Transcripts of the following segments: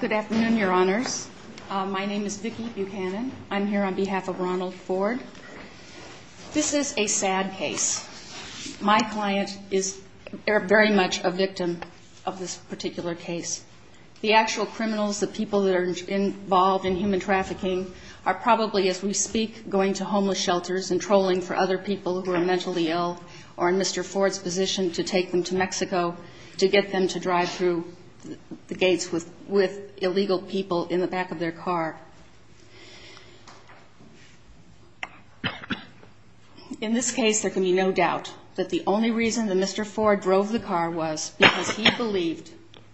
Good afternoon, your honors. My name is Vicki Buchanan. I'm here on behalf of Ronald Ford. This is a sad case. My client is very much a victim of this particular case. The actual criminals, the people that are involved in human trafficking, are probably, as we speak, going to homeless shelters and trolling for other people who are mentally ill or in Mr. Ford's position to take them to Mexico to get them to drive through the gates with him. In this case, there can be no doubt that the only reason that Mr. Ford drove the car was because he believed,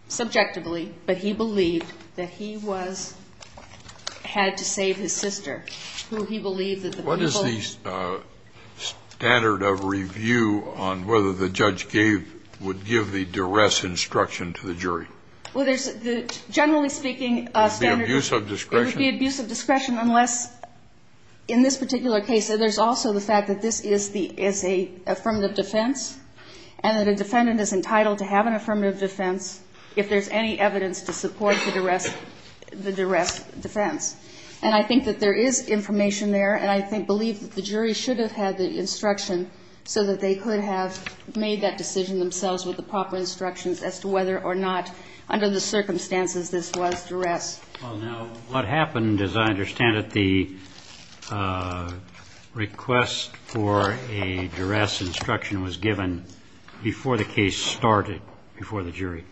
subjectively, but he believed that he was, had to save his sister, who he believed that the people that were involved in this particular case were mentally ill. The jury should have had the instruction so that they could have made that decision themselves with the proper instructions as to whether or not, under the circumstances, this was duress. Well, now, what happened, as I understand it, the request for a duress instruction was given before the case started, before the jury.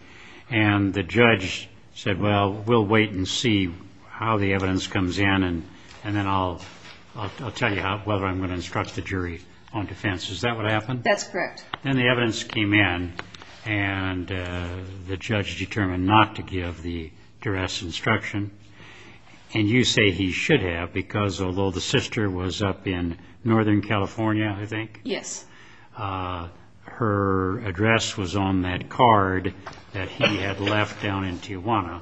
And the judge said, well, we'll wait and see how the evidence comes in, and then I'll tell you whether I'm going to instruct the jury on defense. Is that what happened? That's correct. Then the evidence came in, and the judge determined not to give the duress instruction. And you say he should have, because although the sister was up in Northern California, I think? Yes. Her address was on that card that he had left down in Tijuana.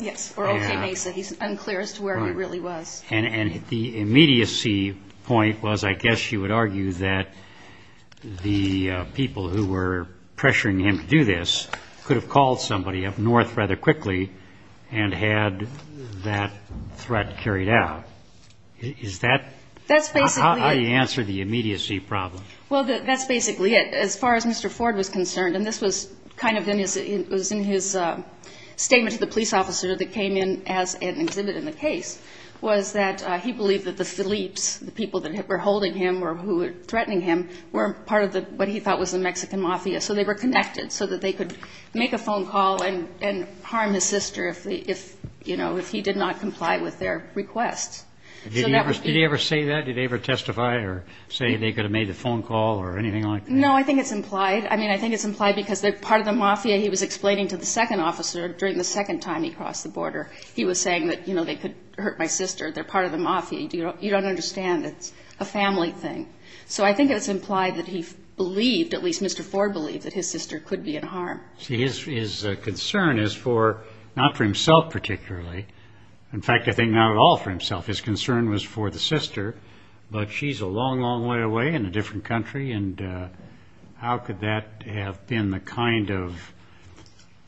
Yes, for O.K. Mesa. He's unclear as to where he really was. And the immediacy point was, I guess you would argue, that the people who were pressuring him to do this could have called somebody up north rather quickly and had that threat carried out. Is that how you answer the immediacy problem? Well, that's basically it. As far as Mr. Ford was concerned, and this was kind of in his statement to the police officer that came in as an exhibit in the case, was that he believed that the Phillips, the people that were holding him or who were threatening him, were part of what he thought was the Mexican mafia. So they were connected so that they could make a phone call and harm his sister if he did not comply with their request. Did he ever say that? Did they ever testify or say they could have made the phone call or anything like that? No, I think it's implied. I mean, I think it's implied because they're part of the mafia. He was explaining to the second officer during the second time he crossed the border. He was saying that, you know, they could hurt my sister. They're part of the mafia. You don't understand. It's a family thing. So I think it's implied that he believed, at least Mr. Ford believed, that his sister could be in harm. See, his concern is for, not for himself particularly. In fact, I think not at all for himself. His concern was for the sister. But she's a long, long way away in a different country. And how could that have been the kind of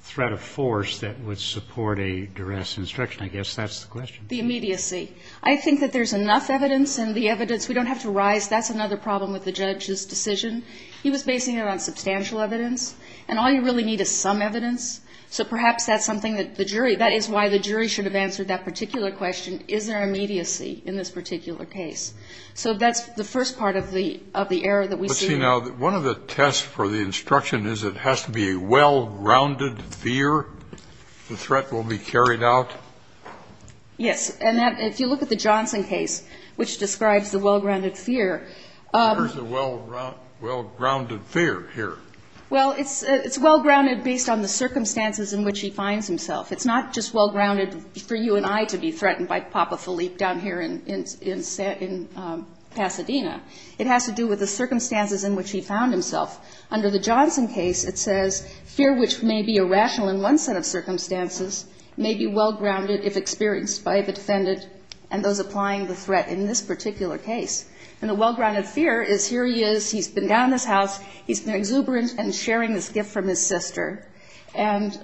threat of force that would support a duress instruction? I guess that's the question. The immediacy. I think that there's enough evidence. And the evidence, we don't have to rise. That's another problem with the judge's decision. He was basing it on substantial evidence. And all you really need is some evidence. So perhaps that's something that the jury, that is why the jury should have answered that particular question. Is there immediacy in this particular case? So that's the first part of the error that we see. Now, one of the tests for the instruction is it has to be a well-grounded fear. The threat will be carried out. Yes. And if you look at the Johnson case, which describes the well-grounded fear. Where's the well-grounded fear here? Well, it's well-grounded based on the circumstances in which he finds himself. It's not just well-grounded for you and I to be threatened by Papa Philippe down here in Pasadena. It has to do with the circumstances in which he found himself. Under the Johnson case, it says, fear which may be irrational in one set of circumstances may be well-grounded if experienced by the defendant and those applying the threat in this particular case. And the well-grounded fear is here he is. He's been down in this house. He's been exuberant and sharing this gift from his sister. And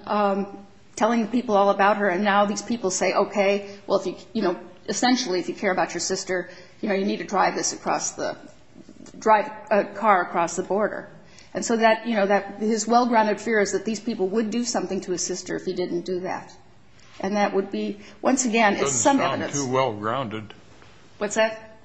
telling people all about her. And now these people say, okay, well, essentially, if you care about your sister, you need to drive a car across the border. And so his well-grounded fear is that these people would do something to his sister if he didn't do that. And that would be, once again, some evidence. It doesn't sound too well-grounded. What's that?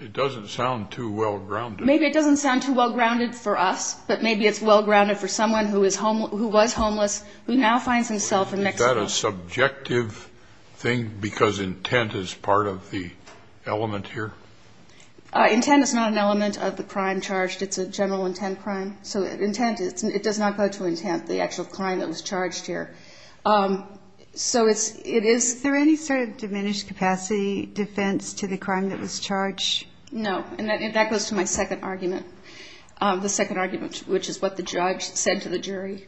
It doesn't sound too well-grounded. Maybe it doesn't sound too well-grounded for us, but maybe it's well-grounded for someone who was homeless, who now finds himself in Mexico. Is that a subjective thing because intent is part of the element here? Intent is not an element of the crime charged. It's a general intent crime. So intent, it does not go to intent, the actual crime that was charged here. So it is. Is there any sort of diminished capacity defense to the crime that was charged? No. And that goes to my second argument, the second argument, which is what the judge said to the jury.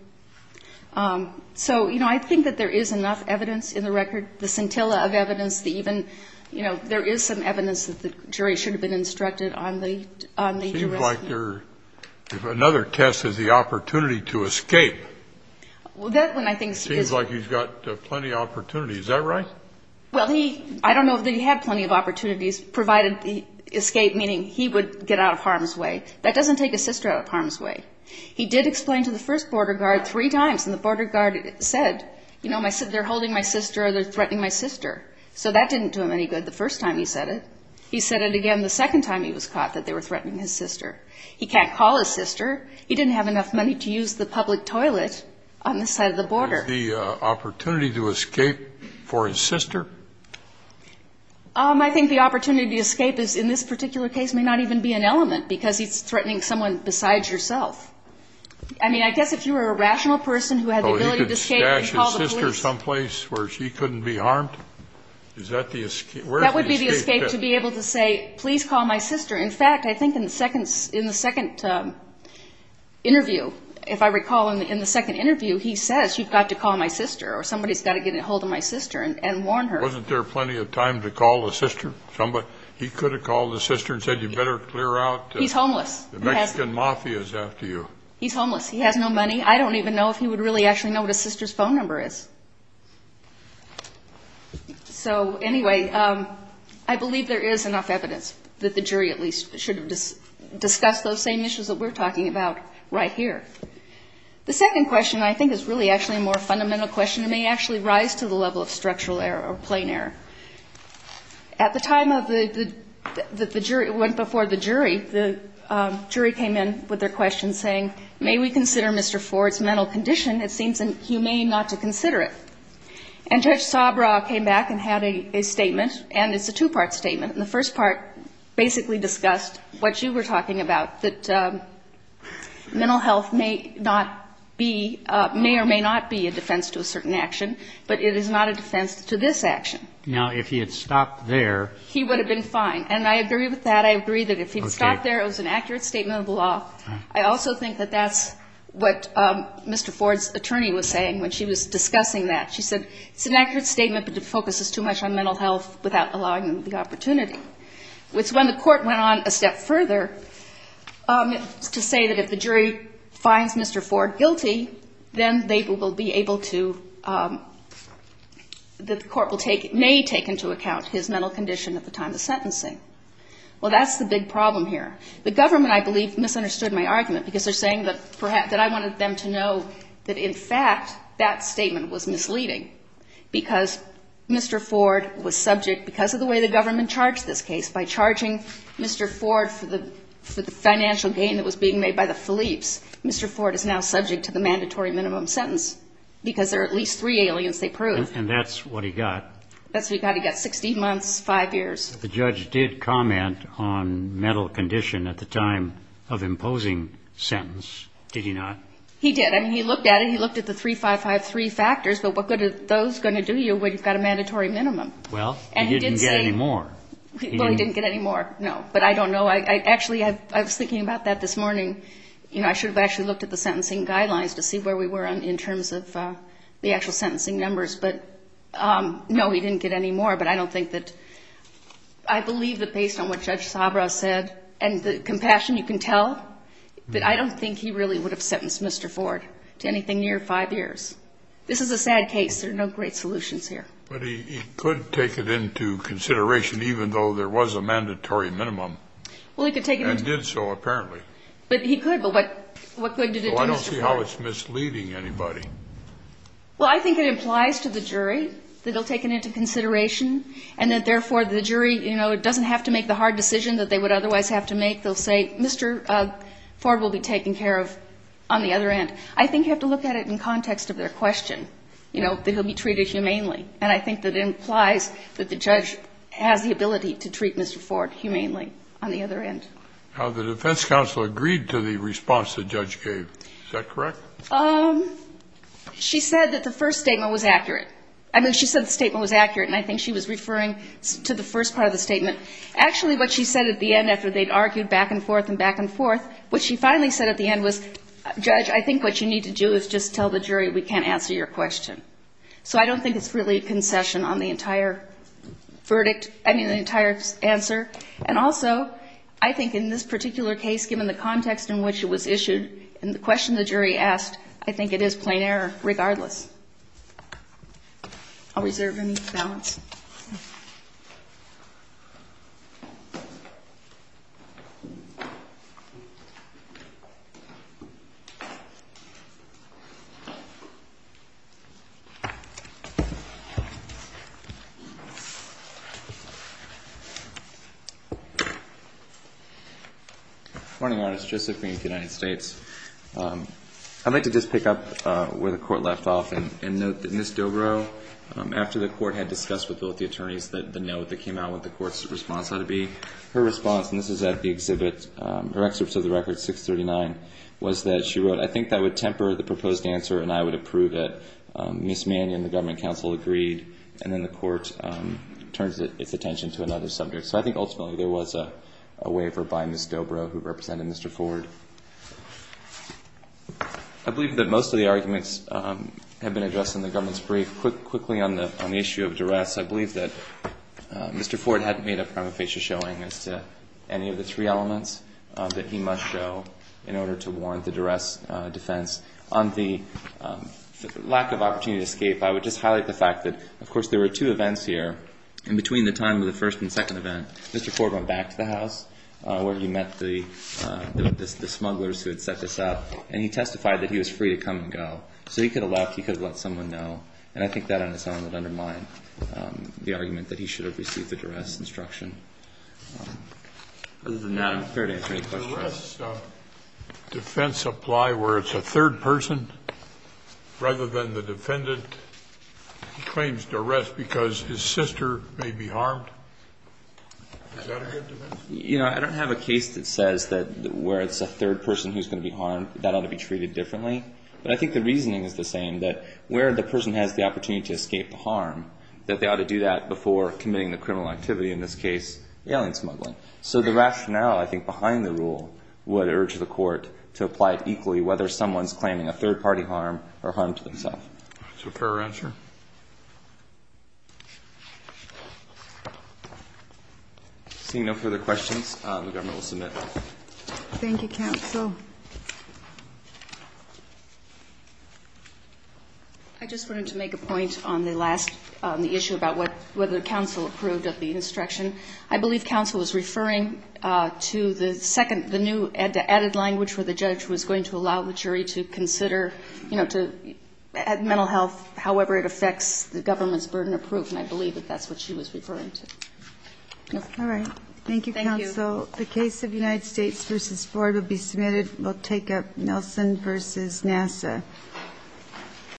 So, you know, I think that there is enough evidence in the record, the scintilla of evidence that even, you know, there is some evidence that the jury should have been instructed on the arrest. Seems like there's another test is the opportunity to escape. Well, that one I think is. Seems like he's got plenty of opportunities. Is that right? Well, he, I don't know that he had plenty of opportunities provided the escape, meaning he would get out of harm's way. That doesn't take a sister out of harm's way. He did explain to the first border guard three times and the border guard said, you know, they're holding my sister or they're threatening my sister. So that didn't do him any good the first time he said it. He said it again the second time he was caught that they were threatening his sister. He can't call his sister. He didn't have enough money to use the public toilet on the side of the border. Did he have the opportunity to escape for his sister? I think the opportunity to escape in this particular case may not even be an element because he's threatening someone besides yourself. I mean, I guess if you were a rational person who had the ability to escape and call the police. Oh, he could stash his sister someplace where she couldn't be harmed? Is that the escape? That would be the escape to be able to say, please call my sister. In fact, I think in the second interview, if I recall in the second interview, he says you've got to call my sister or somebody's got to get a hold of my sister and warn her. Wasn't there plenty of time to call the sister? He could have called the sister and said you better clear out. He's homeless. The Mexican Mafia is after you. He's homeless. He has no money. I don't even know if he would really actually know what a sister's phone number is. So anyway, I believe there is enough evidence that the jury at least should have discussed those same issues that we're talking about right here. The second question, I think, is really actually a more fundamental question. It may actually rise to the level of structural error or plain error. At the time that the jury went before the jury, the jury came in with their question saying, may we consider Mr. Ford's mental condition? It seems inhumane not to consider it. And Judge Sabra came back and had a statement, and it's a two-part statement. And the first part basically discussed what you were talking about, that mental health may not be, may or may not be a defense to a certain action, but it is not a defense to this action. Now, if he had stopped there. He would have been fine. And I agree with that. I agree that if he had stopped there, it was an accurate statement of the law. I also think that that's what Mr. Ford's attorney was saying when she was discussing that. She said it's an accurate statement, but it focuses too much on mental health without allowing them the opportunity. It's when the court went on a step further to say that if the jury finds Mr. Ford guilty, then they will be able to, that the court may take into account his mental condition at the time of sentencing. Well, that's the big problem here. The government, I believe, misunderstood my argument because they're saying that I wanted them to know that, in fact, that statement was misleading, because Mr. Ford was subject, because of the way the government charged this case. By charging Mr. Ford for the financial gain that was being made by the Phillips, Mr. Ford is now subject to the mandatory minimum sentence because there are at least three aliens they proved. And that's what he got. That's what he got. He got 16 months, 5 years. The judge did comment on mental condition at the time of imposing sentence, did he not? He did. I mean, he looked at it. He looked at the 3, 5, 5, 3 factors. But what are those going to do you when you've got a mandatory minimum? Well, he didn't get any more. Well, he didn't get any more, no. But I don't know. Actually, I was thinking about that this morning. You know, I should have actually looked at the sentencing guidelines to see where we were in terms of the actual sentencing numbers. But, no, he didn't get any more. But I don't think that – I believe that based on what Judge Sabra said and the compassion you can tell, that I don't think he really would have sentenced Mr. Ford to anything near 5 years. This is a sad case. There are no great solutions here. But he could take it into consideration even though there was a mandatory minimum. Well, he could take it into – And did so, apparently. But he could. But what good did it do Mr. Ford? Well, I don't see how it's misleading anybody. Well, I think it implies to the jury that he'll take it into consideration and that, therefore, the jury, you know, doesn't have to make the hard decision that they would otherwise have to make. They'll say, Mr. Ford will be taken care of on the other end. I think you have to look at it in context of their question, you know, that he'll be treated humanely. And I think that it implies that the judge has the ability to treat Mr. Ford humanely on the other end. The defense counsel agreed to the response the judge gave. Is that correct? She said that the first statement was accurate. I mean, she said the statement was accurate, and I think she was referring to the first part of the statement. Actually, what she said at the end after they'd argued back and forth and back and forth, what she finally said at the end was, Judge, I think what you need to do is just tell the jury we can't answer your question. So I don't think it's really a concession on the entire verdict, I mean, the entire answer. And also, I think in this particular case, given the context in which it was issued and the question the jury asked, I think it is plain error regardless. I'll reserve any comments. Good morning, Your Honor. Joseph Green with the United States. I'd like to just pick up where the court left off and note that Ms. Dobro, after the court had discussed with both the attorneys the note that came out with the court's response, that would be her response, and this is at the exhibit, her excerpts of the record, 639, was that she wrote, I think that would temper the proposed answer, and I would approve it. Ms. Mannion, the government counsel, agreed. And then the court turns its attention to another subject. So I think ultimately there was a waiver by Ms. Dobro who represented Mr. Ford. I believe that most of the arguments have been addressed in the government's brief. Quickly on the issue of duress, I believe that Mr. Ford had made a prima facie showing as to any of the three elements that he must show in order to warrant the duress defense. On the lack of opportunity to escape, I would just highlight the fact that, of course, there were two events here. In between the time of the first and second event, Mr. Ford went back to the house where he met the smugglers who had set this up, and he testified that he was free to come and go. So he could have left. He could have let someone know. And I think that on its own would undermine the argument that he should have received the duress instruction. The duress defense apply where it's a third person rather than the defendant? He claims duress because his sister may be harmed. Is that a good defense? You know, I don't have a case that says that where it's a third person who's going to be harmed, that ought to be treated differently. But I think the reasoning is the same, that where the person has the opportunity to escape the harm, that they ought to do that before committing the criminal activity, in this case, alien smuggling. So the rationale, I think, behind the rule would urge the court to apply it equally, whether someone's claiming a third-party harm or harm to themselves. Is there a further answer? Seeing no further questions, the government will submit. Thank you, counsel. I just wanted to make a point on the last, on the issue about whether counsel approved of the instruction. I believe counsel was referring to the second, the new added language where the judge was going to allow the jury to consider, you know, to add mental health, however it affects the government's burden of proof. And I believe that that's what she was referring to. All right. Thank you, counsel. Thank you. The case of United States v. Ford will be submitted. We'll take up Nelson v. NASA.